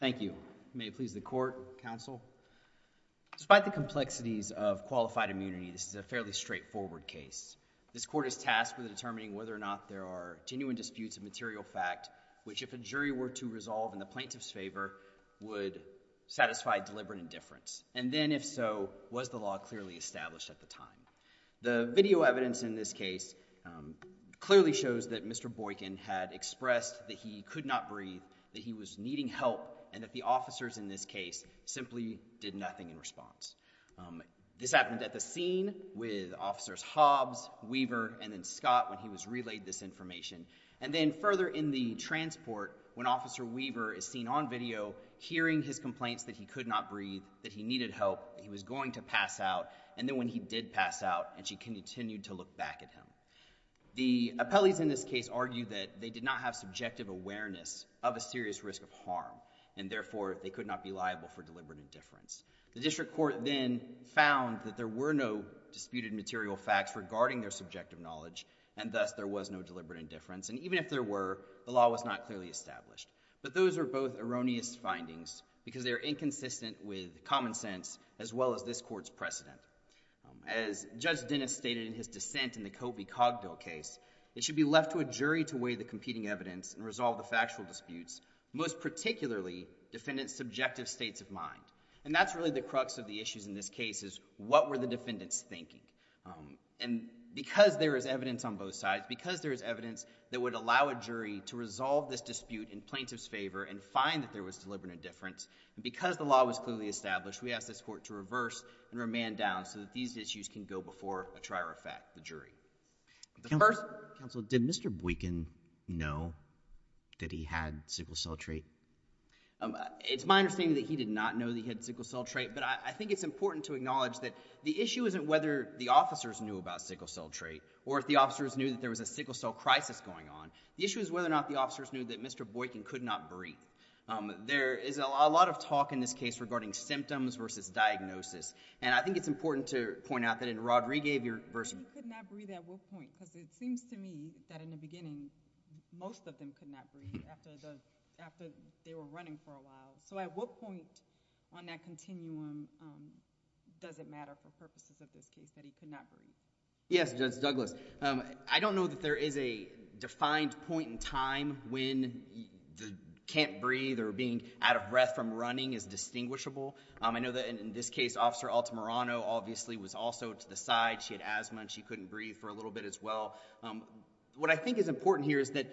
Thank you. May it please the court, counsel. Despite the complexities of qualified immunity, this is a fairly straightforward case. This court is tasked with determining whether or not there are genuine disputes of material fact which, if a jury were to resolve in the plaintiff's favor, would satisfy deliberate indifference. And then, if so, was the law clearly established at the time? The video evidence in this case clearly shows that Mr. Boykin had expressed that he could not breathe, that he was needing help, and that the officers in this case simply did nothing in response. This happened at the scene with Officers Hobbs, Weaver, and then Scott when he was relayed this information. And then further in the transport, when Officer Weaver is seen on video hearing his complaints that he could not breathe, that he needed help, he was going to pass out, and then when he did pass out and she continued to look back at him. The appellees in this case argue that they did not have subjective awareness of a serious risk of harm, and therefore they could not be liable for deliberate indifference. The district court then found that there were no disputed material facts regarding their subjective knowledge, and thus there was no deliberate indifference. And even if there were, the law was not clearly established. But those are both erroneous findings because they are inconsistent with common sense as well as this court's precedent. As Judge Dennis stated in his dissent in the Coby-Cogdill case, it should be left to a jury to weigh the competing evidence and resolve the factual disputes, most particularly defendants' subjective states of mind. And that's really the crux of the issues in this case is what were the defendants thinking? And because there is evidence on both sides, because there is evidence that would allow a jury to resolve this dispute in plaintiff's favor and find that there was deliberate indifference, and because the law was clearly established, we ask this court to reverse and remand down so that these issues can go before a trier of fact, the jury. The first— Counsel, did Mr. Boykin know that he had sickle cell trait? It's my understanding that he did not know that he had sickle cell trait, but I think it's important to acknowledge that the issue isn't whether the officers knew about sickle cell trait or if the officers knew that there was a sickle cell crisis going on. The issue is whether or not the officers knew that Mr. Boykin could not breathe. There is a lot of talk in this case regarding symptoms versus diagnosis. And I think it's important to point out that in Rodriguez— But why he could not breathe at what point? Because it seems to me that in the beginning, most of them could not breathe after they were running for a while. So at what point on that continuum does it matter for purposes of this case that he could not breathe? Yes, Judge Douglas. I don't know that there is a defined point in time when the can't breathe or being out of breath from running is distinguishable. I know that in this case, Officer Altamirano obviously was also to the side. She had asthma and she couldn't breathe for a little bit as well. What I think is important here is that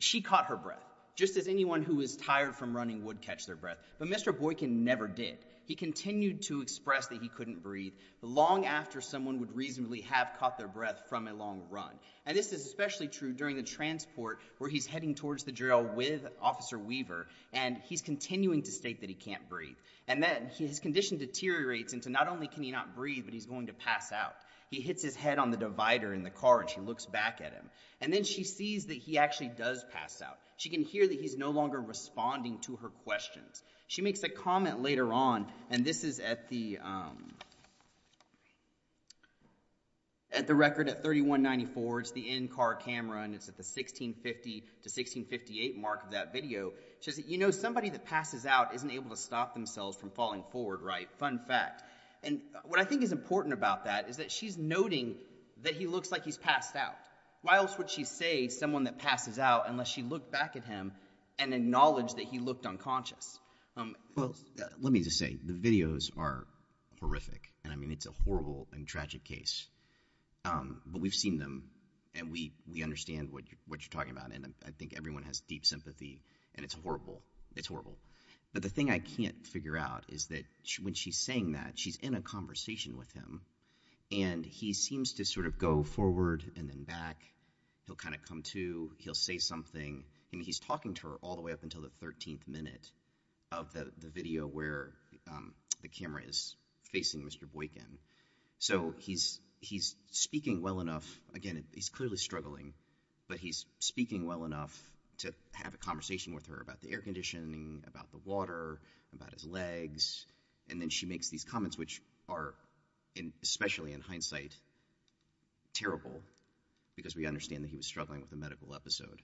she caught her breath, just as anyone who is tired from running would catch their breath. But Mr. Boykin never did. He continued to express that he couldn't breathe long after someone would reasonably have caught their breath from a long run. And this is especially true during the transport where he's heading towards the drill with Officer Weaver and he's continuing to state that he can't breathe. And then his condition deteriorates into not only can he not breathe, but he's going to pass out. He hits his head on the divider in the car and she looks back at him. And then she sees that he actually does pass out. She can hear that he's no longer responding to her questions. She makes a comment later on, and this is at the record at 3194, it's the in-car camera, and it's at the 1650 to 1658 mark of that video. She says, you know, somebody that passes out isn't able to stop themselves from falling forward, right? Fun fact. And what I think is important about that is that she's noting that he looks like he's passed out. Why else would she say someone that passes out unless she looked back at him and acknowledged that he looked unconscious? Well, let me just say, the videos are horrific. And I mean, it's a horrible and tragic case. But we've seen them, and we understand what you're talking about. And I think everyone has deep sympathy. And it's horrible. It's horrible. But the thing I can't figure out is that when she's saying that, she's in a conversation with him. And he seems to sort of go forward and then back. He'll kind of come to. He'll say something. And he's talking to her all the way up until the 13th minute of the video where the camera is facing Mr. Boykin. So he's speaking well enough. Again, he's clearly struggling. But he's speaking well enough to have a conversation with her about the air conditioning, about the water, about his legs. And then she makes these comments, which are, especially in hindsight, terrible because we understand that he was struggling with a medical episode.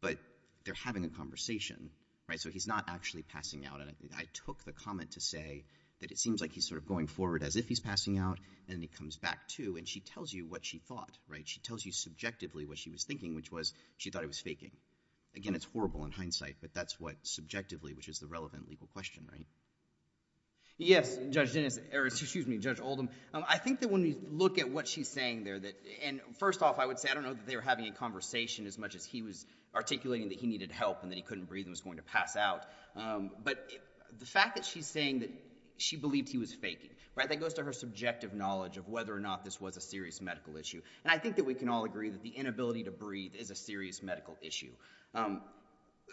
But they're having a conversation, right? So he's not actually passing out. And I took the comment to say that it seems like he's sort of going forward as if he's passing out. And then he comes back to. And she tells you what she thought, right? She tells you subjectively what she was thinking, which was she thought he was faking. Again, it's horrible in hindsight. But that's what subjectively, which is the relevant legal question, right? Yes, Judge Dennis, or excuse me, Judge Oldham. I think that when we look at what she's saying there that, and first off, I would say, I don't know that they were having a conversation as much as he was articulating that he needed help and that he couldn't breathe and was going to pass out. But the fact that she's saying that she believed he was faking, right? That goes to her subjective knowledge of whether or not this was a serious medical issue. And I think that we can all agree that the inability to breathe is a serious medical issue.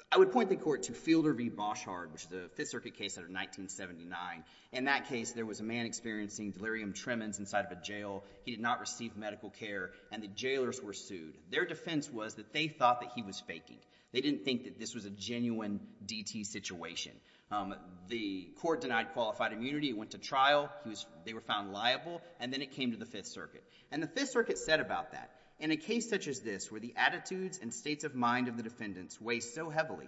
I would point the court to Fielder v. Boschard, which is a Fifth Circuit case out of 1979. In that case, there was a man experiencing delirium tremens inside of a jail. He did not receive medical care. And the jailers were sued. Their defense was that they thought that he was faking. They didn't think that this was a genuine DT situation. The court denied qualified immunity. It went to trial. They were found liable. And then it came to the Fifth Circuit. And the Fifth Circuit said about that, in a case such as this where the attitudes and states of mind of the defendants weigh so heavily,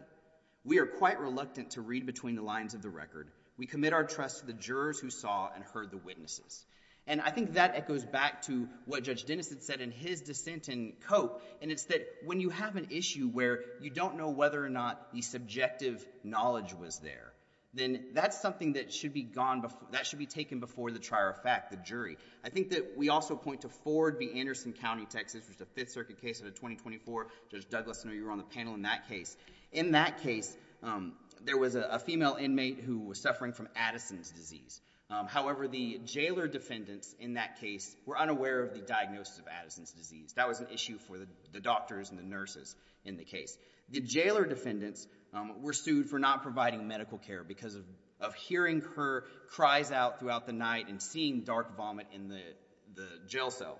we are quite reluctant to read between the lines of the record. We commit our trust to the jurors who saw and heard the witnesses. And I think that echoes back to what Judge Dennis had said in his dissent in Cope. And it's that when you have an issue where you don't know whether or not the subjective knowledge was there, then that's something that should be taken before the trier of fact, I think that we also point to Ford v. Anderson County, Texas, which is a Fifth Circuit case out of 2024. Judge Douglas, I know you were on the panel in that case. In that case, there was a female inmate who was suffering from Addison's disease. However, the jailer defendants in that case were unaware of the diagnosis of Addison's disease. That was an issue for the doctors and the nurses in the case. The jailer defendants were sued for not providing medical care because of hearing her cries out throughout the night and seeing dark vomit in the jail cell.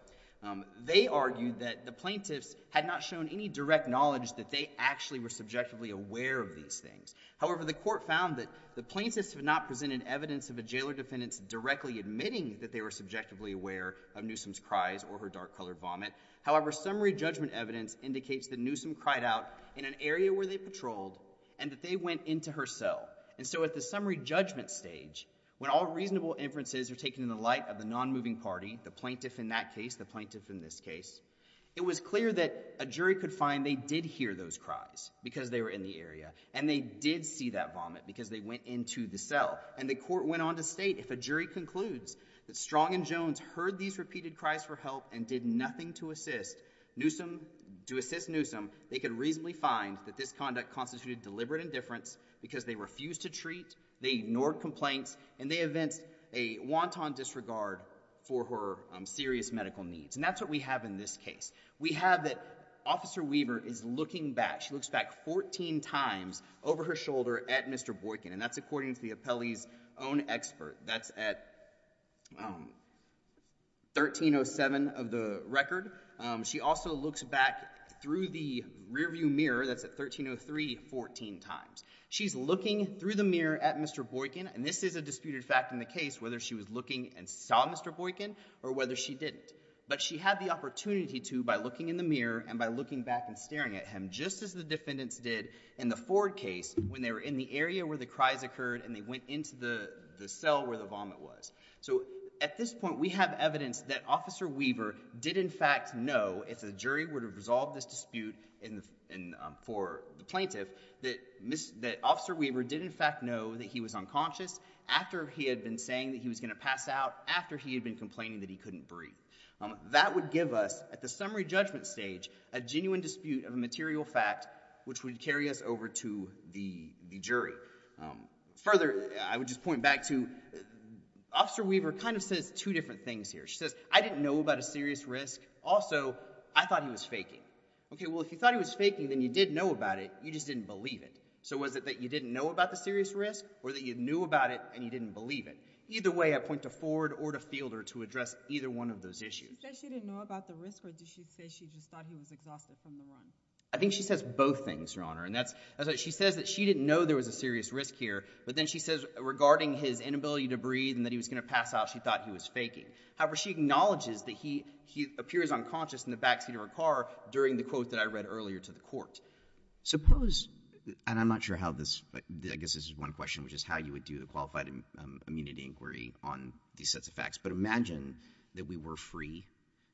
They argued that the plaintiffs had not shown any direct knowledge that they actually were subjectively aware of these things. However, the court found that the plaintiffs had not presented evidence of a jailer defendants directly admitting that they were subjectively aware of Newsom's cries or her dark colored vomit. However, summary judgment evidence indicates that Newsom cried out in an area where they patrolled and that they went into her cell. And so at the summary judgment stage, when all reasonable inferences are taken in the light of the non-moving party, the plaintiff in that case, the plaintiff in this case, it was clear that a jury could find they did hear those cries because they were in the area and they did see that vomit because they went into the cell. And the court went on to state if a jury concludes that Strong and Jones heard these repeated cries for help and did nothing to assist Newsom, to assist Newsom, they could reasonably find that this conduct constituted deliberate indifference because they refused to treat, they ignored complaints, and they evinced a wanton disregard for her serious medical needs. And that's what we have in this case. We have that Officer Weaver is looking back. She looks back 14 times over her shoulder at Mr. Boykin. And that's according to the appellee's own expert. That's at, um, 1307 of the record. Um, she also looks back through the rearview mirror. That's at 1303, 14 times. She's looking through the mirror at Mr. Boykin. And this is a disputed fact in the case, whether she was looking and saw Mr. Boykin or whether she didn't. But she had the opportunity to by looking in the mirror and by looking back and staring at him just as the defendants did in the Ford case when they were in the area where the cries occurred and they went into the cell where the vomit was. So at this point we have evidence that Officer Weaver did in fact know, if the jury would have resolved this dispute for the plaintiff, that Officer Weaver did in fact know that he was unconscious after he had been saying that he was going to pass out, after he had been complaining that he couldn't breathe. That would give us, at the summary judgment stage, a genuine dispute of a material fact which would carry us over to the, the jury. Um, further I would just point back to, Officer Weaver kind of says two different things here. She says, I didn't know about a serious risk. Also, I thought he was faking. Okay, well if you thought he was faking then you did know about it, you just didn't believe it. So was it that you didn't know about the serious risk or that you knew about it and you didn't believe it? Either way I point to Ford or to Fielder to address either one of those issues. She says she didn't know about the risk or does she say she just thought he was exhausted from the run? I think she says both things, Your Honor. And that's, she says that she didn't know there was a serious risk here, but then she says regarding his inability to breathe and that he was going to pass out, she thought he was faking. However, she acknowledges that he, he appears unconscious in the backseat of her car during the quote that I read earlier to the court. Suppose, and I'm not sure how this, I guess this is one question, which is how you would do the qualified immunity inquiry on these sets of facts, but imagine that we were free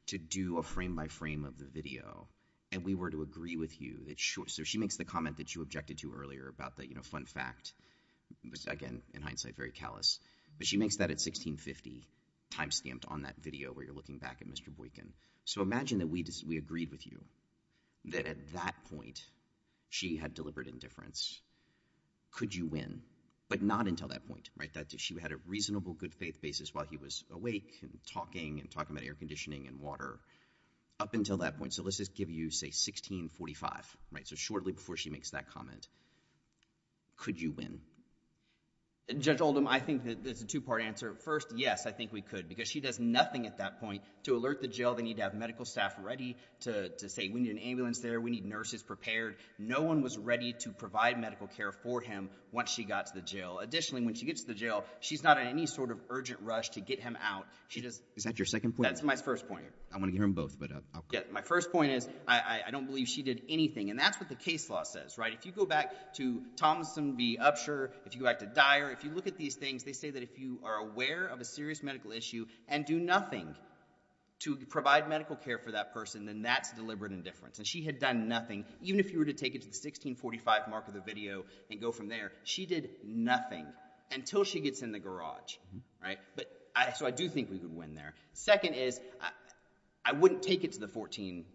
to do a frame-by-frame of the video and we were to agree with you that sure, so she makes the comment that you objected to earlier about the, you know, fun fact, again in hindsight very callous, but she makes that at 1650, timestamped on that video where you're looking back at Mr. Boykin. So imagine that we agreed with you that at that point she had deliberate indifference. Could you win? But not until that point, right? That she had a reasonable good faith basis while he was awake and talking and talking about air conditioning and water up until that point. So let's just give you say 1645, right? So shortly before she makes that comment, could you win? Judge Oldham, I think that there's a two-part answer. First, yes, I think we could because she does nothing at that point to alert the jail. They need to have medical staff ready to say we need an ambulance there. We need nurses prepared. No one was ready to provide medical care for him once she got to the jail. Additionally, when she gets to the jail, she's not in any sort of urgent rush to get him out. She just... Is that your second point? That's my first point. I want to hear them both, but I'll... Yeah, my first point is I don't believe she did anything. And that's what the case law says, right? If you go back to Thomson v. Upshur, if you go back to Dyer, if you look at these things, they say that if you are aware of a serious medical issue and do nothing to provide medical care for that person, then that's deliberate indifference. And she had nothing, even if you were to take it to the 1645 mark of the video and go from there. She did nothing until she gets in the garage, right? So I do think we could win there. Second is, I wouldn't take it to the 14...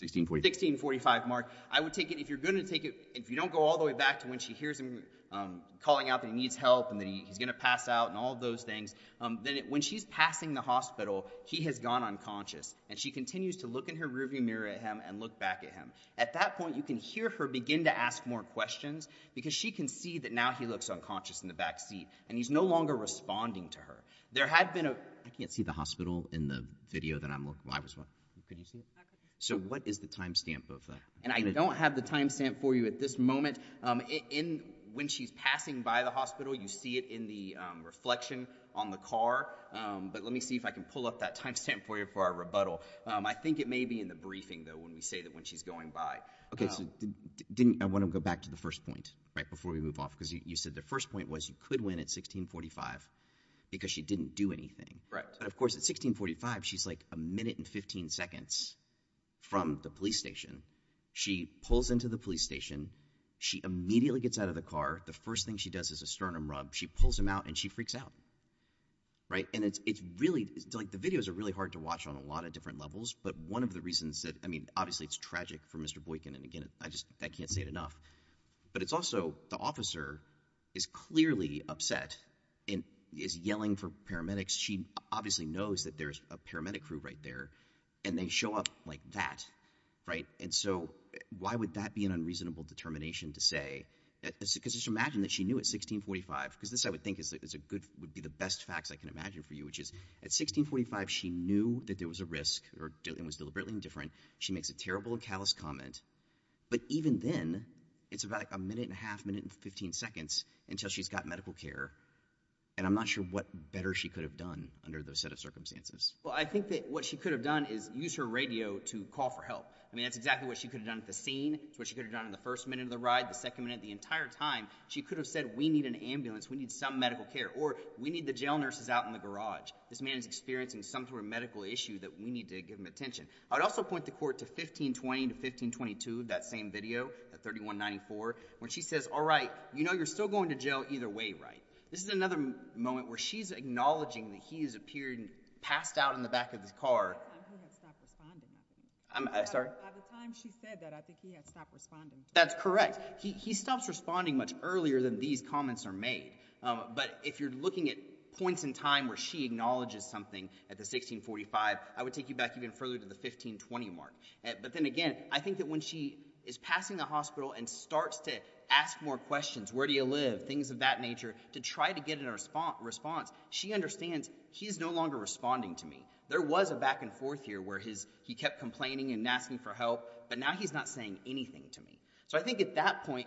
1645. 1645 mark. I would take it, if you're going to take it, if you don't go all the way back to when she hears him calling out that he needs help and that he's going to pass out and all of those things, then when she's passing the hospital, he has gone unconscious, and she continues to look in her rearview mirror at him and look back at him. At that point, you can hear her begin to ask more questions, because she can see that now he looks unconscious in the back seat, and he's no longer responding to her. There had been a... I can't see the hospital in the video that I'm looking... Could you see it? So what is the timestamp of that? And I don't have the timestamp for you at this moment. When she's passing by the hospital, you see it in the reflection on the car. But let me see if I can pull up that timestamp for you for our rebuttal. I think it may be in the briefing, though, when we say that when she's going by... Okay, so I want to go back to the first point, right, before we move off, because you said the first point was you could win at 1645, because she didn't do anything. Right. But of course, at 1645, she's like a minute and 15 seconds from the police station. She pulls into the police station. She immediately gets out of the car. The first thing she does is a sternum rub. She pulls him out, and she freaks out. And it's really... The videos are really hard to watch on a lot of different levels, but one of the reasons that... I mean, obviously, it's tragic for Mr. Boykin, and again, I can't say it enough. But it's also... The officer is clearly upset and is yelling for paramedics. She obviously knows that there's a paramedic crew right there, and they show up like that. And so why would that be an unreasonable determination to say... Because just imagine that she knew at 1645... Because this, I would think, would be the best facts I can imagine for you, which is at 1645, she knew that there was a risk and was deliberately indifferent. She makes a terrible and callous comment. But even then, it's about a minute and a half, a minute and 15 seconds until she's got medical care. And I'm not sure what better she could have done under those set of circumstances. Well, I think that what she could have done is used her radio to call for help. I mean, that's exactly what she could have done at the scene. That's what she could have done in the first minute of the ride, the second minute, the entire time. She could have said, We need an ambulance. We need some medical care. Or, We need the jail nurses out in the garage. This man is experiencing some sort of medical issue that we need to give him attention. I would also point the court to 1520 to 1522, that same video, at 3194, when she says, All right, you know you're still going to jail either way, right? This is another moment where she's acknowledging that he has appeared and passed out in the back of his car. At the time she said that, I think he had stopped responding. That's correct. He stops responding much earlier than these comments are made. But if you're looking at points in time where she acknowledges something at the 1645, I would take you back even further to the 1520 mark. But then again, I think that when she is passing the hospital and starts to ask more questions, Where do you live, things of that nature, to try to get a response, she understands he's no longer responding to me. There was a back and forth here where he kept complaining and asking for help, but now he's not saying anything to me. So I think at that point,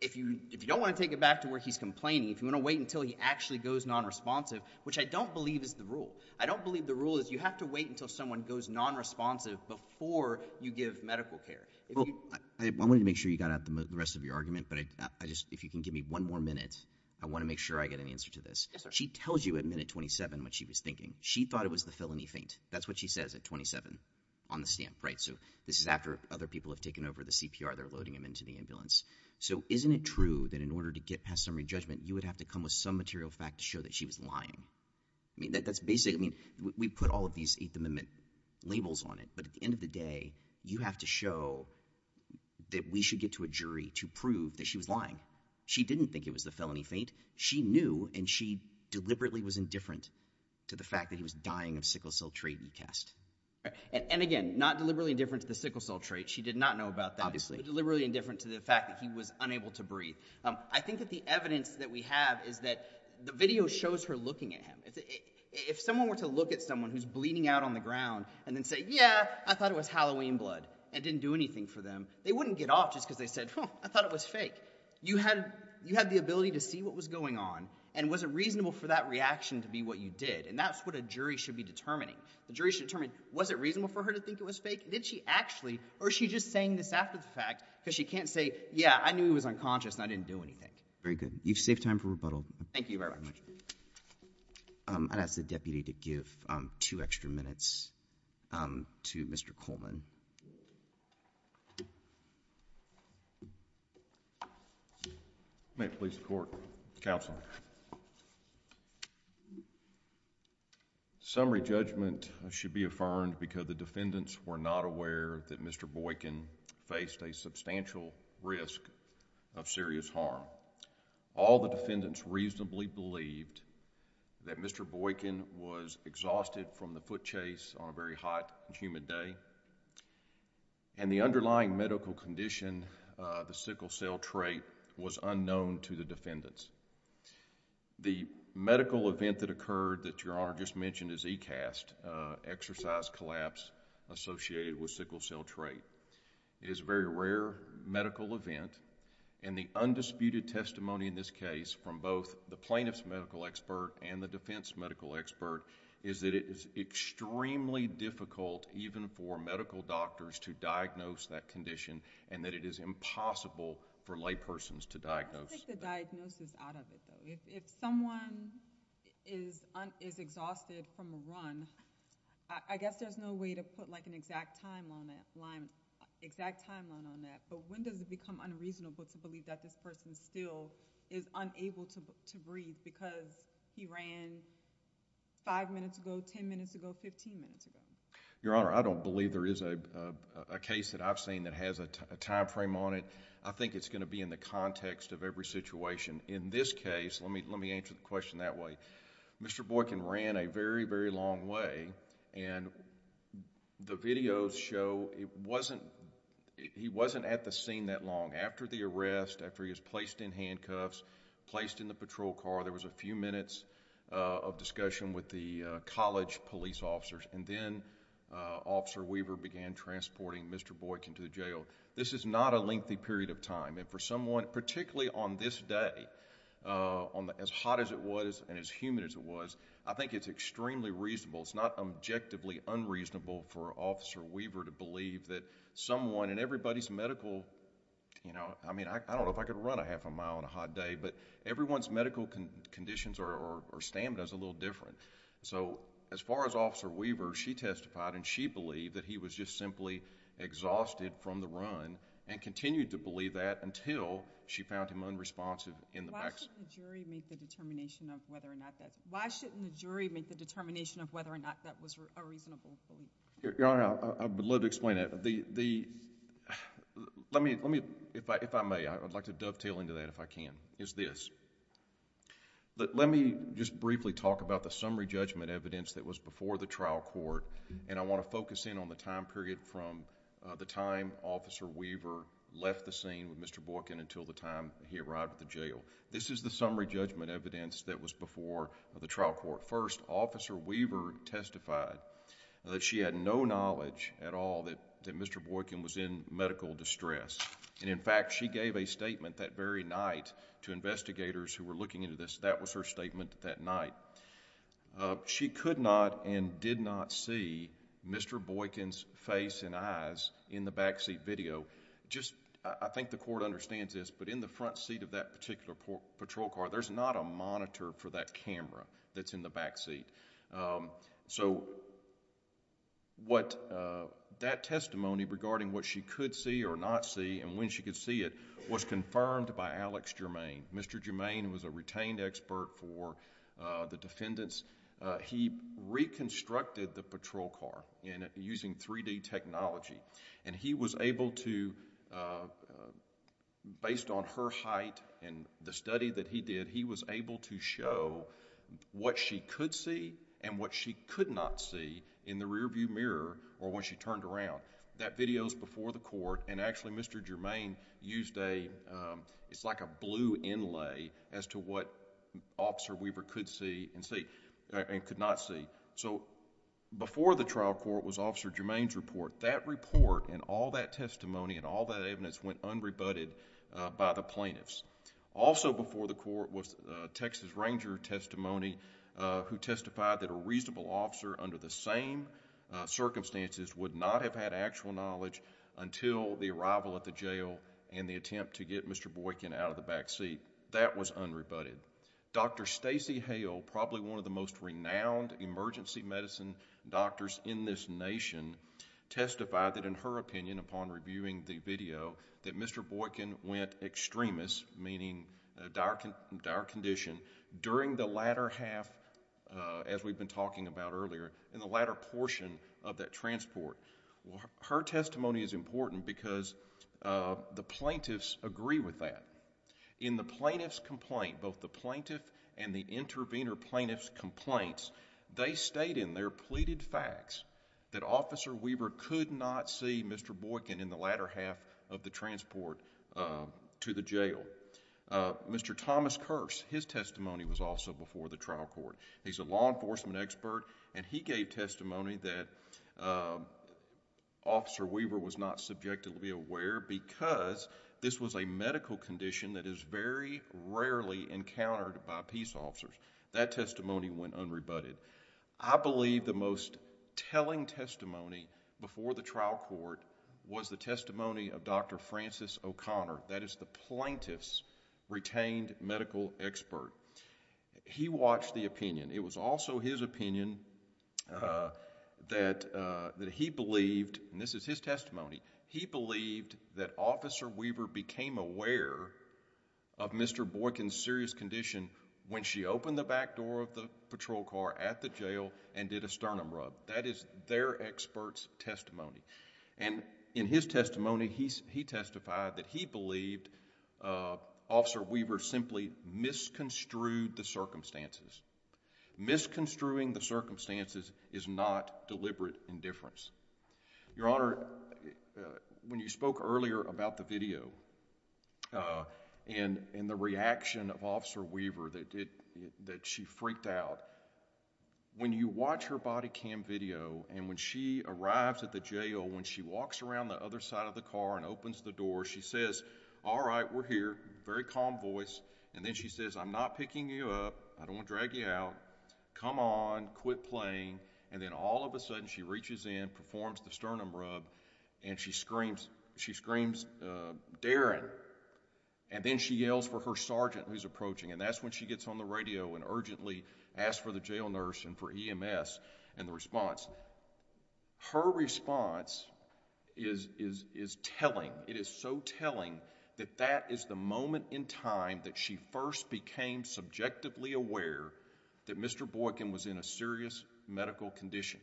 if you don't want to take it back to where he's complaining, if you want to wait until he actually goes nonresponsive, which I don't believe is the rule. I don't believe the rule is you have to wait until someone goes nonresponsive before you give medical care. I wanted to make sure you got out the rest of your argument, but if you can give me one more minute, I want to make sure I get an answer to this. She tells you at minute 27 what she was thinking. She thought it was the felony faint. That's what she says at 27 on the stamp, right? So this is after other people have taken over the CPR. They're loading him into the ambulance. So isn't it true that in order to get past summary judgment, you would have to come with some material fact to show that she was lying? I mean, that's basically, I mean, we put all of these Eighth Amendment labels on it, but at the end of the day, you have to show that we should get to a jury to prove that she was lying. She didn't think it was the felony faint. She knew, and she deliberately was indifferent to the fact that he was dying of sickle cell tracheotest. And again, not deliberately indifferent to the sickle cell tracheotest. She did not know about that. Deliberately indifferent to the fact that he was unable to breathe. I think that the evidence that we have is that the video shows her looking at him. If someone were to look at someone who's bleeding out on the ground and then say, yeah, I thought it was Halloween blood and didn't do anything for them, they wouldn't get off just because they said, oh, I thought it was fake. You had the ability to see what was going on, and was it reasonable for that reaction to be what you did? And that's what a jury should be determining. The jury should determine, was it reasonable for her to think it was fake? Did she actually, or is she just saying this after the fact because she can't say, yeah, I knew he was unconscious and I didn't do anything. Very good. You've saved time for rebuttal. Thank you very much. I'd ask the deputy to give two extra minutes to Mr. Coleman. May it please the court. Counsel. Summary judgment should be affirmed because the defendants were not aware that Mr. Boykin faced a substantial risk of serious harm. All the defendants reasonably believed that Mr. Boykin was exhausted from the foot chase on a very hot and humid day, and the underlying medical condition, the sickle cell trait, was unknown to the defendants. The medical event that occurred that Your Honor just mentioned is ECAST, exercise collapse associated with sickle cell trait. It is a very rare medical event, and the undisputed testimony in this case from both the plaintiff's medical expert and the defense medical expert is that it is extremely difficult even for medical doctors to diagnose that condition and that it is impossible for laypersons to diagnose. How do you take the diagnosis out of it though? If someone is exhausted from a run, I guess there's no way to put like an exact timeline on that, but when does it become unreasonable to believe that this person still is unable to breathe because he ran five minutes ago, ten minutes ago, fifteen minutes ago? Your Honor, I don't believe there is a case that I've seen that has a time frame on it. I think it's going to be in the context of every situation. In this case, let me answer the question that way. Mr. Boykin ran a very, very long way, and the videos show he wasn't at the scene that long. After the arrest, after he was placed in handcuffs, placed in the patrol car, there was a few minutes of discussion with the college police officers, and then Officer Weaver began transporting Mr. Boykin to the jail. This is not a lengthy period of time. For someone, particularly on this day, as hot as it was and as humid as it was, I think it's extremely reasonable, it's not objectively unreasonable for Officer Weaver to believe that someone in everybody's medical... I don't know if I could run a half a mile on a hot day, but everyone's medical conditions or stamina is a little different. As far as Officer Weaver, she testified and she believed that he was just simply exhausted from the run and continued to believe that until she found him unresponsive in the back seat. Why shouldn't the jury make the determination of whether or not that was a reasonable belief? Your Honor, I would love to explain that. If I may, I would like to dovetail into that if I can. The reason is this. Let me just briefly talk about the summary judgment evidence that was before the trial court. I want to focus in on the time period from the time Officer Weaver left the scene with Mr. Boykin until the time he arrived at the jail. This is the summary judgment evidence that was before the trial court. First, Officer Weaver testified that she had no knowledge at all that Mr. Boykin was in medical distress. In fact, she gave a statement that very night to investigators who were looking into this. That was her statement that night. She could not and did not see Mr. Boykin's face and eyes in the back seat video. I think the court understands this, but in the front seat of that particular patrol car, there's not a monitor for that camera that's in the back seat. That testimony regarding what she could see or not see and when she could see it was confirmed by Alex Germain. Mr. Germain was a retained expert for the defendants. He reconstructed the patrol car using 3D technology. He was able to, based on her height and the study that he did, he was able to show what she could see and what she could not see in the rear view mirror or when she turned around. That video is before the court. Actually, Mr. Germain used a blue inlay as to what Officer Weaver could see and could not see. Before the trial court was Officer Germain's report. That report and all that testimony and all that evidence went unrebutted by the plaintiffs. Also before the court was Texas Ranger testimony who testified that a reasonable officer under the same circumstances would not have had actual knowledge until the arrival at the jail and the attempt to get Mr. Boykin out of the back seat. That was unrebutted. Dr. Stacey Hale, probably one of the most renowned emergency medicine doctors in this nation, testified that in her opinion, upon reviewing the video, that Mr. Boykin went extremis, meaning dire condition, during the latter half, as we've been talking about earlier, in the latter portion of that transport. Her testimony is important because the plaintiffs agree with that. In the plaintiff's complaint, both the plaintiff and the intervener plaintiff's complaints, they state in their pleaded facts that Officer Weaver could not see Mr. Boykin in the latter half of the transport to the jail. Mr. Thomas Kearse, his testimony was also before the trial court. He's a law enforcement expert and he gave testimony that Officer Weaver was not subjectively aware because this was a medical condition that is very rarely encountered by peace officers. That testimony went unrebutted. I believe the most telling testimony before the trial court was the testimony of Dr. Francis O'Connor. That is the plaintiff's retained medical expert. He watched the opinion. It was also his opinion that he believed, and this is his testimony, he believed that Officer Weaver became aware of Mr. Boykin's serious condition when she opened the back door of the patrol car at the jail and did a sternum rub. That is their expert's testimony. In his testimony, he testified that he believed Officer Weaver simply misconstrued the circumstances. Misconstruing the circumstances is not deliberate indifference. Your Honor, when you spoke earlier about the video and the reaction of Officer Weaver that she freaked out, when you watch her body cam video and when she arrives at the jail, when she walks around the other side of the car and opens the door, she says, all right, we're here, very calm voice, and then she says, I'm not picking you up. I don't want to drag you out. Come on. Quit playing. And then all of a sudden, she reaches in, performs the sternum rub, and she screams, Darin. And then she yells for her sergeant who's approaching, and that's when she gets on the radio and urgently asks for the jail nurse and for EMS and the response. Her response is telling. It is so telling that that is the moment in time that she first became subjectively aware that Mr. Boykin was in a serious medical condition.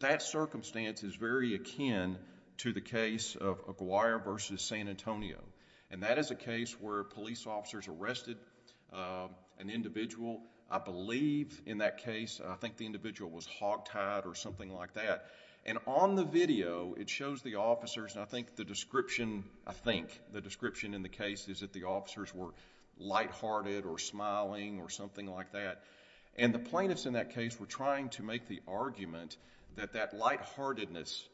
That circumstance is very akin to the case of Aguirre v. San Antonio, and that is a case where police officers arrested an individual. I believe in that case, I think the individual was hogtied or something like that. And on the video, it shows the officers, and I think the description, I think, the description in the case is that the officers were lighthearted or smiling or something like that. And the plaintiffs in that case were trying to make the argument that that lightheartedness,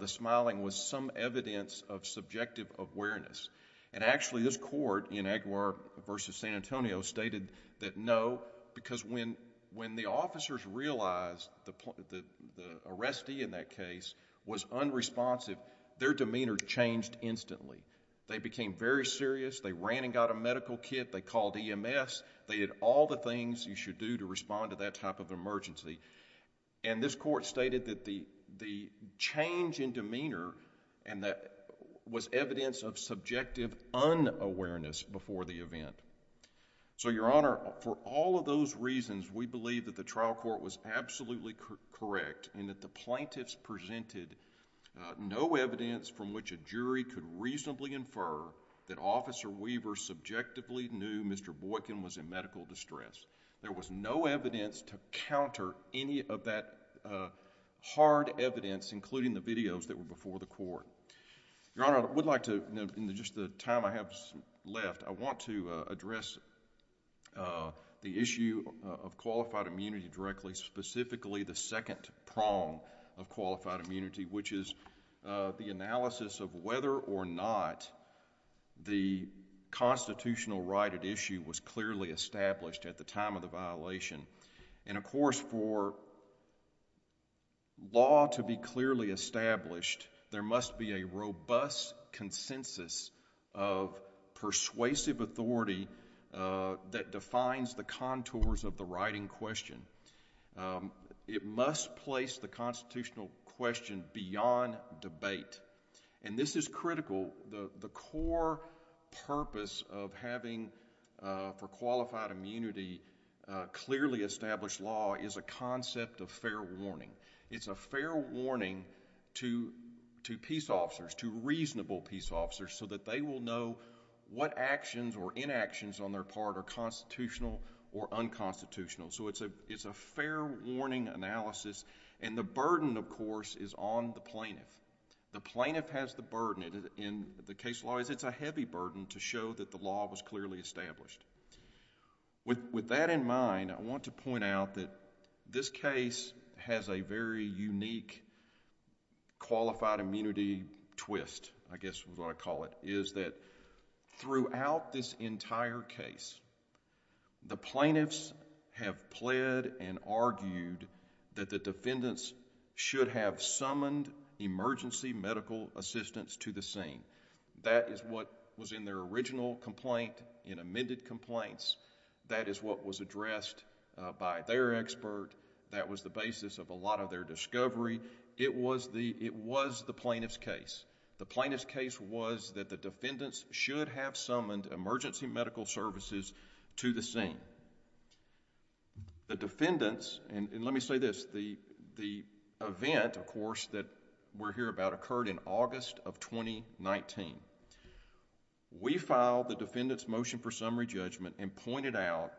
the smiling, was some evidence of subjective awareness. And actually, this court in Aguirre v. San Antonio stated that no, because when the officers realized the arrestee in that case was unresponsive, their demeanor changed instantly. They became very serious. They ran and got a medical kit. They called EMS. They did all the things you should do to respond to that type of emergency. And this court stated that the change in demeanor was evidence of subjective unawareness before the event. So, Your Honor, for all of those reasons, we believe that the trial court was absolutely correct in that the plaintiffs presented no evidence from which a jury could reasonably infer that Officer Weaver subjectively knew Mr. Boykin was in medical distress. There was no evidence to counter any of that hard evidence, including the videos that were before the court. Your Honor, I would like to, in just the time I have left, I want to address the issue of qualified immunity directly, and specifically the second prong of qualified immunity, which is the analysis of whether or not the constitutional right at issue was clearly established at the time of the violation. And, of course, for law to be clearly established, there must be a robust consensus of persuasive authority that defines the case. It must place the constitutional question beyond debate. And this is critical. The core purpose of having, for qualified immunity, clearly established law is a concept of fair warning. It's a fair warning to peace officers, to reasonable peace officers, so that they will know what actions or inactions on their part are constitutional or unconstitutional. It's a fair warning analysis, and the burden, of course, is on the plaintiff. The plaintiff has the burden. In the case law, it's a heavy burden to show that the law was clearly established. With that in mind, I want to point out that this case has a very unique qualified immunity twist, I guess is what I call it, is that throughout this entire case, the plaintiffs have pled and argued that the defendants should have summoned emergency medical assistance to the scene. That is what was in their original complaint, in amended complaints. That is what was addressed by their expert. That was the basis of a lot of their discovery. It was the plaintiff's case. The plaintiff's case was that the defendants should have summoned emergency medical services to the scene. The defendants, and let me say this, the event, of course, that we're here about occurred in August of 2019. We filed the defendant's motion for summary judgment and pointed out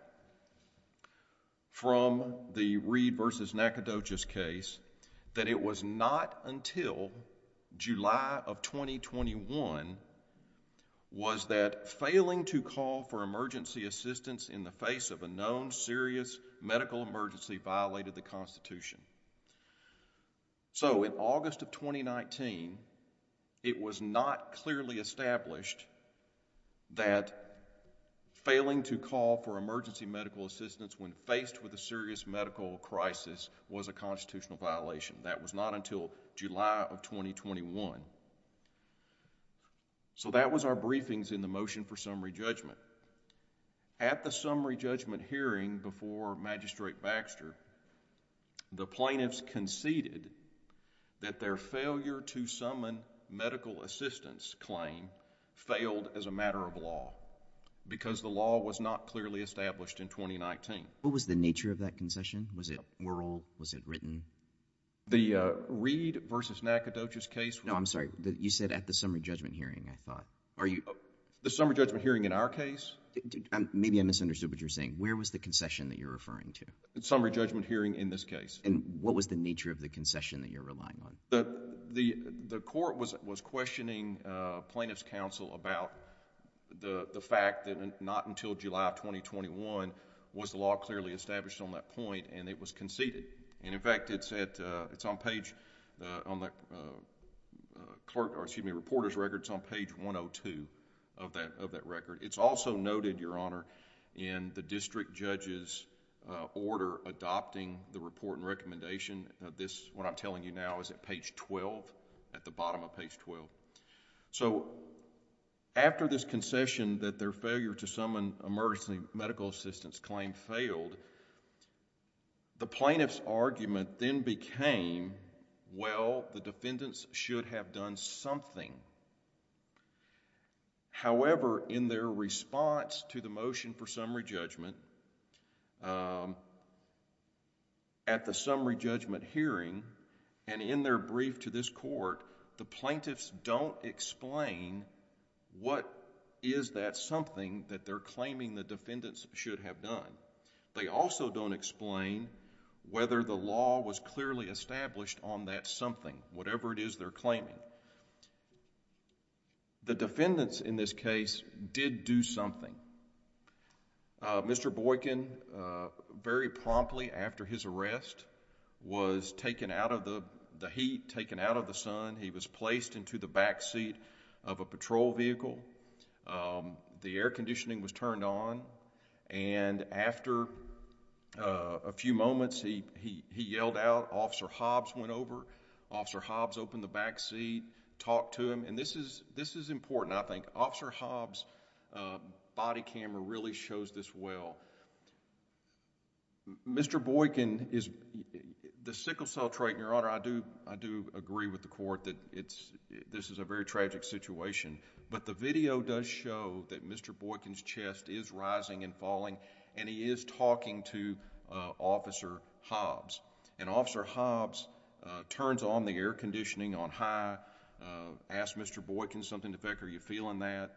from the Reed v. Nacogdoches case that it was not until July of 2021 was that failing to call for emergency assistance in the face of a known serious medical emergency violated the Constitution. In August of 2019, it was not clearly established that failing to call for this medical crisis was a constitutional violation. That was not until July of 2021. That was our briefings in the motion for summary judgment. At the summary judgment hearing before Magistrate Baxter, the plaintiffs conceded that their failure to summon medical assistance claim failed as a matter of law because the law was not clearly established in 2019. What was the nature of that concession? Was it oral? Was it written? The Reed v. Nacogdoches case... No, I'm sorry. You said at the summary judgment hearing, I thought. The summary judgment hearing in our case? Maybe I misunderstood what you're saying. Where was the concession that you're referring to? The summary judgment hearing in this case. What was the nature of the concession that you're relying on? The court was questioning plaintiff's counsel about the fact that not until July of 2021 was the law clearly established on that point and it was conceded. In fact, it's on page... on the reporter's record, it's on page 102 of that record. It's also noted, Your Honor, in the district judge's order adopting the report and recommendation. What I'm telling you now is at page 12, at the bottom of page 12. After this concession that their failure to summon emergency medical assistance claim failed, the plaintiff's argument then became, well, the defendants should have done something. However, in their response to the motion for summary judgment, at the summary judgment hearing and in their brief to this court, the plaintiffs don't explain what is that something that they're claiming the defendants should have done. They also don't explain whether the law was clearly established on that something, whatever it is they're claiming. The defendants in this case did do something. Mr. Boykin, very promptly after his arrest, was taken out of the heat, taken out of the sun. He was placed into the backseat of a patrol vehicle. The air conditioning was turned on. After a few moments, he yelled out, Officer Hobbs went over. Officer Hobbs opened the backseat, talked to him. This is important, I think. Officer Hobbs' body camera really shows this well. Mr. Boykin is... the sickle cell trait, Your Honor, I do agree with the court that this is a very tragic situation, but the video does show that Mr. Boykin's chest is rising and falling and he is talking to Officer Hobbs. Officer Hobbs turns on the air conditioning on high, asks Mr. Boykin something to the effect, are you feeling that?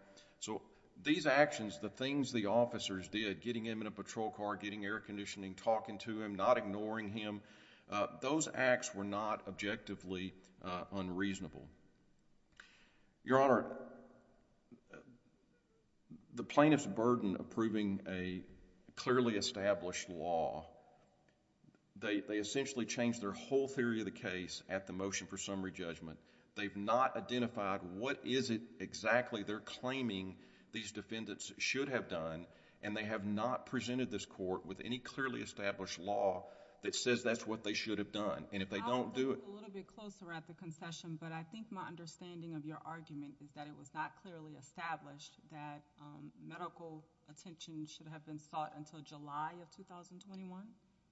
These actions, the things the officers did, getting him in a patrol car, getting air conditioning, talking to him, not ignoring him, those acts were not objectively unreasonable. Your Honor, the plaintiff's burden of proving a clearly established law, they essentially changed their whole theory of the case at the motion for summary judgment. They've not identified what is it exactly they're claiming these defendants should have done and they have not presented this court with any clearly established law that says that's what they should have done. If they don't do it... I'll move a little bit closer at the concession, but I think my understanding of your argument is that it was not clearly established that medical attention should have been sought until July of 2021?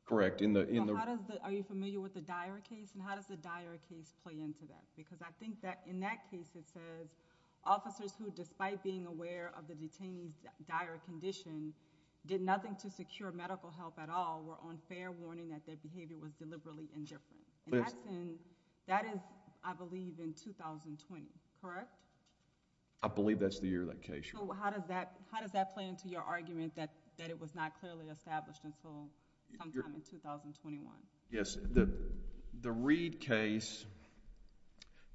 Correct. Are you familiar with the Dyer case and how does the Dyer case play into that? Because I think that in that case it says, officers who despite being aware of the detainee's dire condition, did nothing to secure medical help at all, were on fair warning that their behavior was deliberately indifferent. That is, I believe, in 2020, correct? I believe that's the year of that case. How does that play into your argument that it was not clearly established until sometime in 2021? Yes. The Reed case,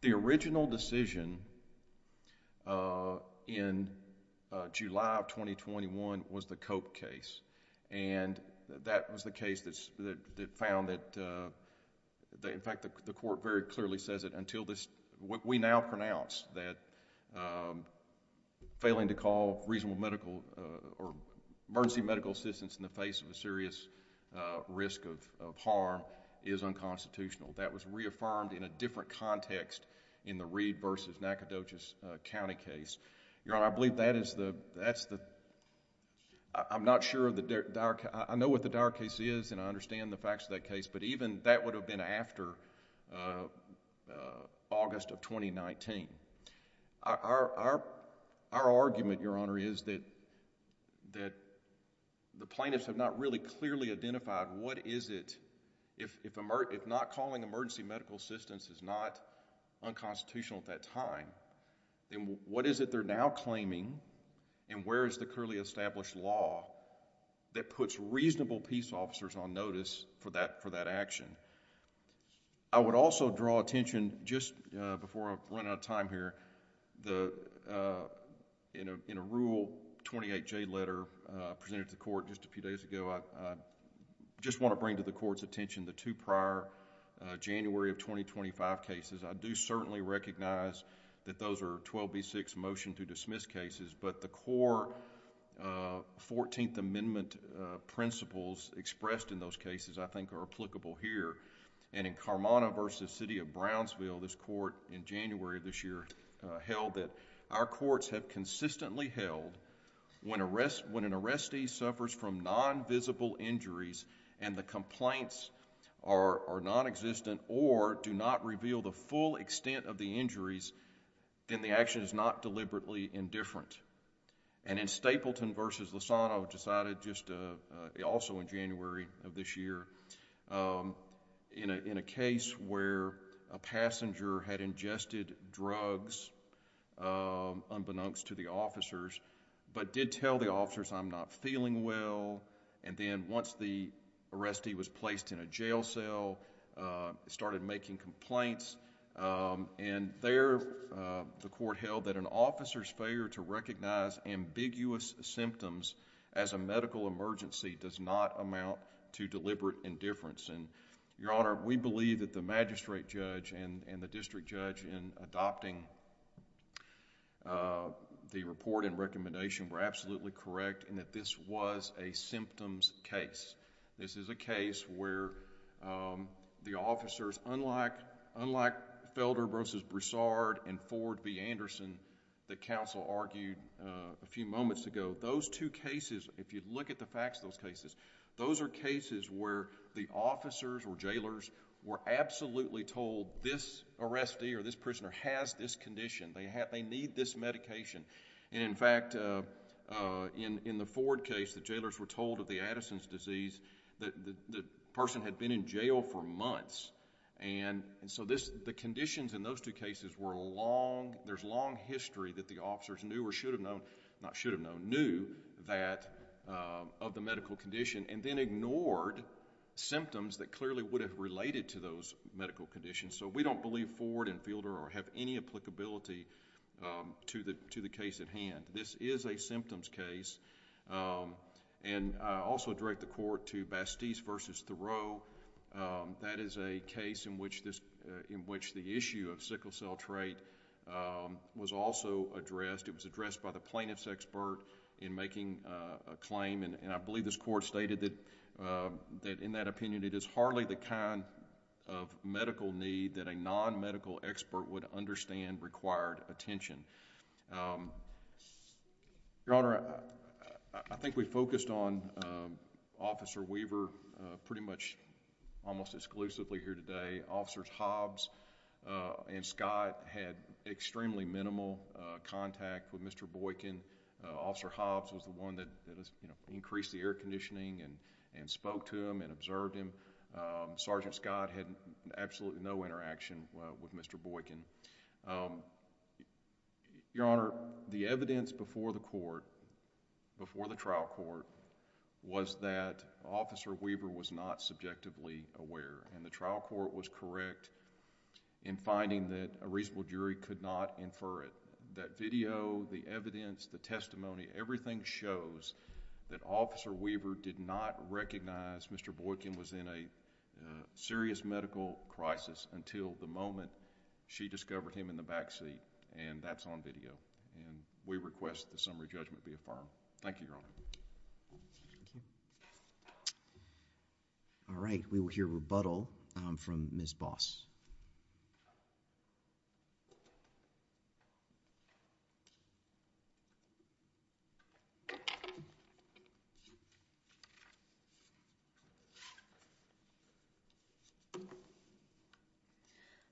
the original decision in July of 2021 was the Cope case. That was the case that found that... in fact, the court very clearly says that until this... we now pronounce that failing to call reasonable medical or emergency medical assistance in the face of a serious risk of harm is unconstitutional. That was reaffirmed in a different context in the Reed versus Nacogdoches County case. Your Honor, I believe that is the... I'm not sure of the Dyer... I know what the Dyer case is and I understand the facts of that case, but even that would have been after August of 2019. Our argument, Your Honor, is that the plaintiffs have not really clearly identified what is it... if not calling emergency medical assistance is not unconstitutional at that time, then what is it they're now claiming and where is the clearly established law that puts reasonable peace officers on notice for that action? I would also draw attention, just before I run out of time here, in a Rule 28J letter presented to the court just a few days ago, I just want to bring to the court's attention the two prior January of 2025 cases. I do certainly recognize that those are 12B6 motion to dismiss cases, but the core Fourteenth Amendment principles expressed in those cases, I think, are applicable here. In Carmona v. City of Brownsville, this court in January of this year held that our courts have consistently held when an arrestee suffers from non-visible injuries and the complaints are nonexistent or do not reveal the full extent of the injuries, then the action is not deliberately indifferent. In Stapleton v. Lozano, also in January of this year, in a case where a passenger had ingested drugs unbeknownst to the officers, but did tell the officers, I'm not feeling well, and then once the arrestee was placed in a jail cell, started making complaints, and there the court held that an officer's failure to recognize ambiguous symptoms as a medical emergency does not amount to deliberate indifference. Your Honor, we believe that the magistrate judge and the district judge in adopting the report and recommendation were absolutely correct and that this was a symptoms case. This is a case where the officers, unlike Felder v. Broussard and Ford v. Anderson that counsel argued a few moments ago, those two cases, if you look at the facts of those cases, those are cases where the officers or jailers were absolutely told this arrestee or this prisoner has this condition. They need this medication. In fact, in the Ford case, the jailers were told of the Addison's disease, the person had been in jail for months. The conditions in those two cases were long, there's long history that the officers knew or should have known, not should have known, knew that of the medical condition and then ignored symptoms that clearly would have related to those medical conditions. We don't believe Ford and Felder have any applicability to the case at This is a symptoms case. I also direct the court to Bastis v. Thoreau. That is a case in which the issue of sickle cell trait was also addressed. It was addressed by the plaintiff's expert in making a claim. I believe this court stated that in that opinion, it is hardly the kind of medical need that a non-medical expert would understand required attention. Your Honor, I think we focused on Officer Weaver pretty much almost exclusively here today. Officers Hobbs and Scott had extremely minimal contact with Mr. Boykin. Officer Hobbs was the one that increased the air conditioning and spoke to him and observed him. Sergeant Scott had absolutely no interaction with Mr. Boykin. Your Honor, the evidence before the court, before the trial court was that Officer Weaver was not subjectively aware. The trial court was correct in finding that a reasonable jury could not infer it. That video, the evidence, the testimony, everything shows that Officer Weaver did not recognize Mr. Boykin was in a serious medical crisis until the moment she discovered him in the backseat, and that's on video. We request the summary judgment be affirmed. Thank you, Your Honor. Thank you. All right. We will hear rebuttal from Ms. Boss.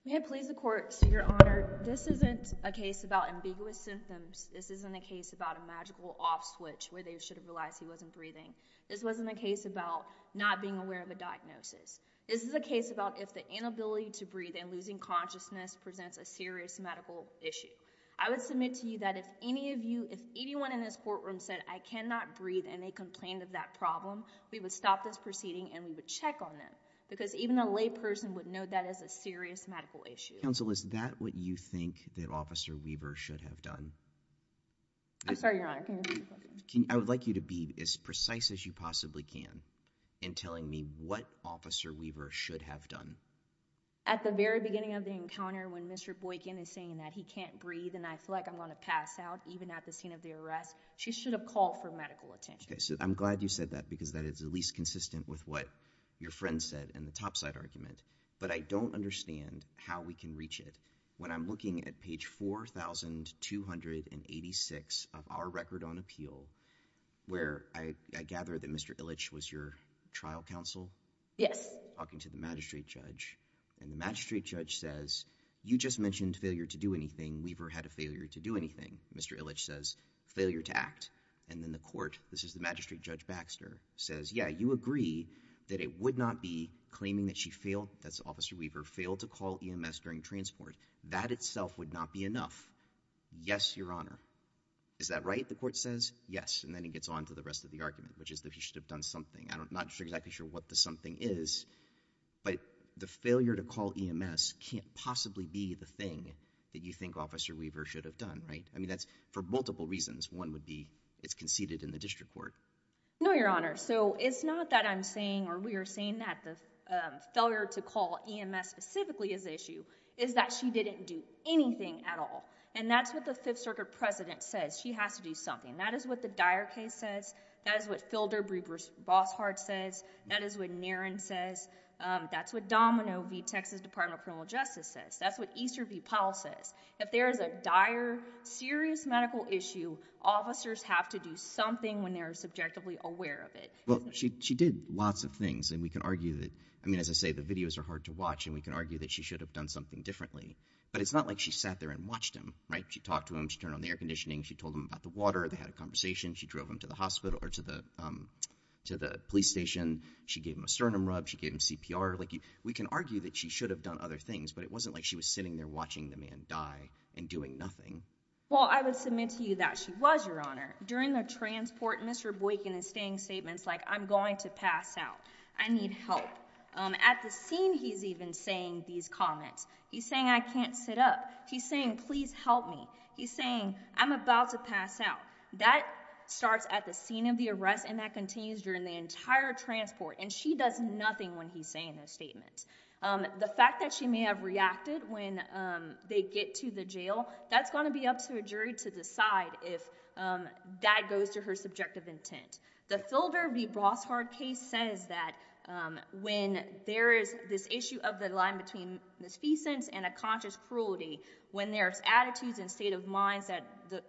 May it please the Court, Your Honor, this isn't a case about ambiguous symptoms. This isn't a case about a magical off switch where they should have realized he wasn't breathing. This wasn't a case about not being aware of a diagnosis. This is a case about if the inability to breathe and losing consciousness presents a serious medical issue. I would submit to you that if any of you, if anyone in this courtroom said I cannot breathe and they complained of that problem, we would stop this proceeding and we would check on them because even a lay person would know that is a serious medical issue. Counsel, is that what you think that Officer Weaver should have done? I'm sorry, Your Honor. Can you repeat the question? I would like you to be as precise as you possibly can in telling me what Officer Weaver should have done. At the very beginning of the encounter when Mr. Boykin is saying that he can't breathe and I feel like I'm going to pass out even at the scene of the arrest, she should have called for medical attention. Okay. So I'm glad you said that because that is at least consistent with what your friend said in the topside argument but I don't understand how we can reach it. When I'm looking at page 4,286 of our record on appeal where I gather that Mr. Illich was your trial counsel? Talking to the magistrate judge and the magistrate judge says you just mentioned failure to do anything. Weaver had a failure to do anything. Mr. Illich says failure to act and then the court, this is the magistrate judge Baxter, says yeah, you agree that it would not be claiming that she failed, that's Officer Weaver, failed to call EMS during transport. That itself would not be enough. Yes, Your Honor. Is that right, the court says? Yes. And then it gets on to the rest of the argument which is that he should have done something. I'm not exactly sure what the something is but the failure to call EMS can't possibly be the thing that you think Officer Weaver should have done, right? I mean that's for multiple reasons. One would be it's conceded in the district court. No, Your Honor. So it's not that I'm saying or we are saying that the failure to call EMS specifically is the issue, is that she didn't do anything at all. And that's what the Fifth Circuit President says. She has to do something. That is what the Dyer case says. That is what Filder Boshart says. That is what Niren says. That's what Domino v. Texas Department of Criminal Justice says. That's what Easter v. Powell says. If there is a dire, serious medical issue, officers have to do something when they are subjectively aware of it. Well, she did lots of things and we can argue that, I mean, as I say, the videos are hard to watch and we can argue that she should have done something differently. But it's not like she sat there and watched him, right? She talked to him. She turned on the air conditioning. She told him about the water. They had a conversation. She drove him to the hospital or to the police station. She gave him a sternum rub. She gave him CPR. We can argue that she should have done other things but it wasn't like she was sitting there watching the man die and doing nothing. Well, I would submit to you that she was, Your Honor. During the transport, Mr. Boykin is saying statements like, I'm going to pass out. I need help. At the scene he's even saying these comments. He's saying I can't sit up. He's saying please help me. He's saying I'm about to pass out. That starts at the scene of the arrest and that continues during the entire transport and she does nothing when he's saying those statements. The fact that she may have reacted when they get to the jail, that's going to be up to a jury to decide if that goes to her subjective intent. The Thilder v. Brothard case says that when there is this issue of the line between misfeasance and a conscious cruelty, when there's attitudes and state of minds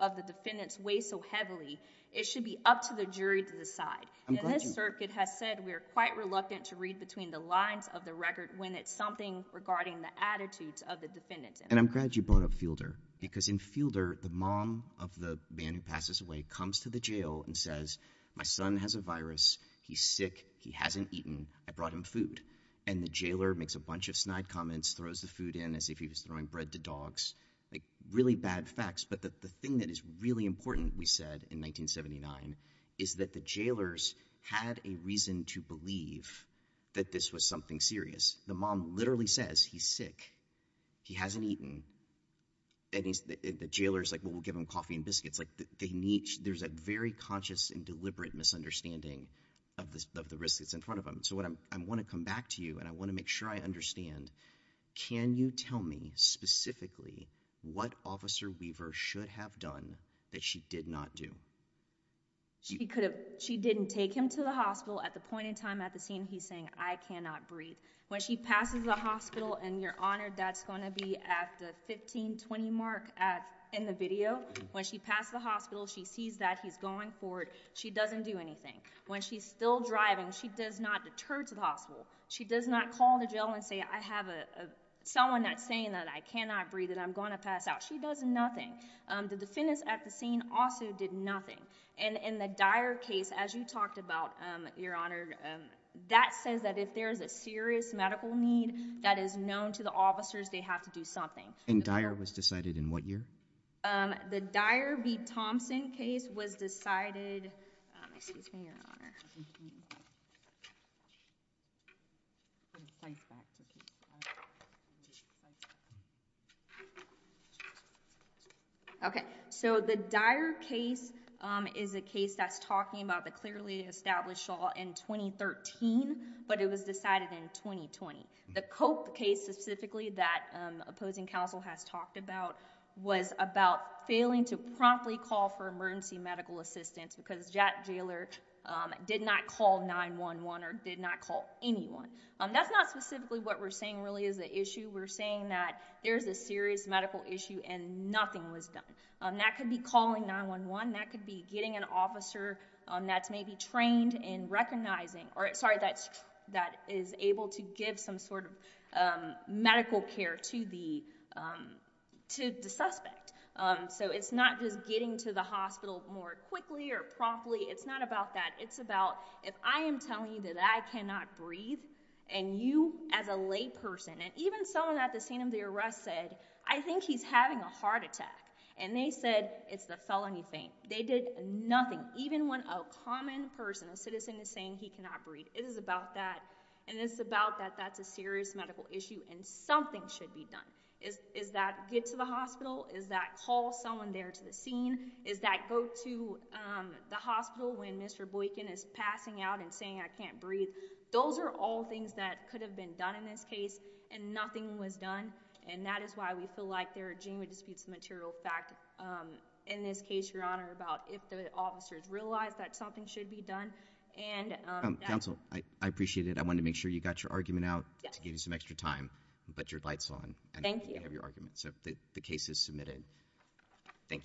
of the defendants weigh so heavily, it should be up to the jury to decide. This circuit has said we are quite reluctant to read between the lines of the record when it's something regarding the attitudes of the defendants. And I'm glad you brought up Thilder because in Thilder, the mom of the man who passes away comes to the jail and says, my son has a virus. He's sick. He hasn't eaten. I brought him food. And the jailer makes a bunch of snide comments, throws the food in as if he was throwing bread to dogs, like really bad facts. But the thing that is really important, we said in 1979 is that the jailers had a reason to believe that this was something serious. The mom literally says he's sick. He hasn't eaten. And the jailer is like, well, we'll give him coffee and biscuits. There's a very conscious and deliberate misunderstanding of the risk that's in front of him. So I want to come back to you and I want to make sure I understand, can you tell me specifically what Officer Weaver should have done that she did not do? She didn't take him to the hospital. At the point in time at the scene, he's saying, I cannot breathe. When she passes the hospital, and, Your Honor, that's going to be at the 15-20 mark in the video, when she passes the hospital, she sees that he's going for it. She doesn't do anything. When she's still driving, she does not deter to the hospital. She does not call the jail and say, I have someone that's saying that I cannot breathe and I'm going to pass out. She does nothing. The defendants at the scene also did nothing. And in the Dyer case, as you talked about, Your Honor, that says that if there is a serious medical need that is known to the officers, they have to do something. And Dyer was decided in what year? The Dyer v. Thompson case was decided, excuse me, Your Honor. Okay. So the Dyer case is a case that's talking about the clearly established case that was decided in, that's what happened to the Dyer case in Nashaw in 2013, but it was decided in 2020. The Copp case specifically that opposing counsel has talked about was about failing to promptly call for emergency medical assistance because Jack Jalor did not call 911 or did not call anyone. That's not specifically what we're saying really is the issue. We're saying that there's a serious medical issue and nothing was done. That could be calling 9-1-1. That could be getting an officer that's maybe trained in recognizing, or sorry, that's, that is able to give some sort of medical care to the, to the suspect. So it's not just getting to the hospital more quickly or promptly. It's not about that. It's about if I am telling you that I cannot breathe and you as a lay person, and even someone at the scene of the arrest said, I think he's having a heart attack. And they said, it's the felony thing. They did nothing. Even when a common person, a citizen is saying he cannot breathe. It is about that. And it's about that. That's a serious medical issue and something should be done is, is that get to the hospital? Is that call someone there to the scene? Is that go to the hospital when Mr. Boykin is passing out and saying, I can't breathe. Those are all things that could have been done in this case and nothing was done. And that is why we feel like there are genuine disputes of material fact. In this case, your honor about if the officers realize that something should be done and. Counsel, I appreciate it. I want to make sure you got your argument out to give you some extra time, but your lights on. Thank you. Your argument. So the case is submitted. Thank you.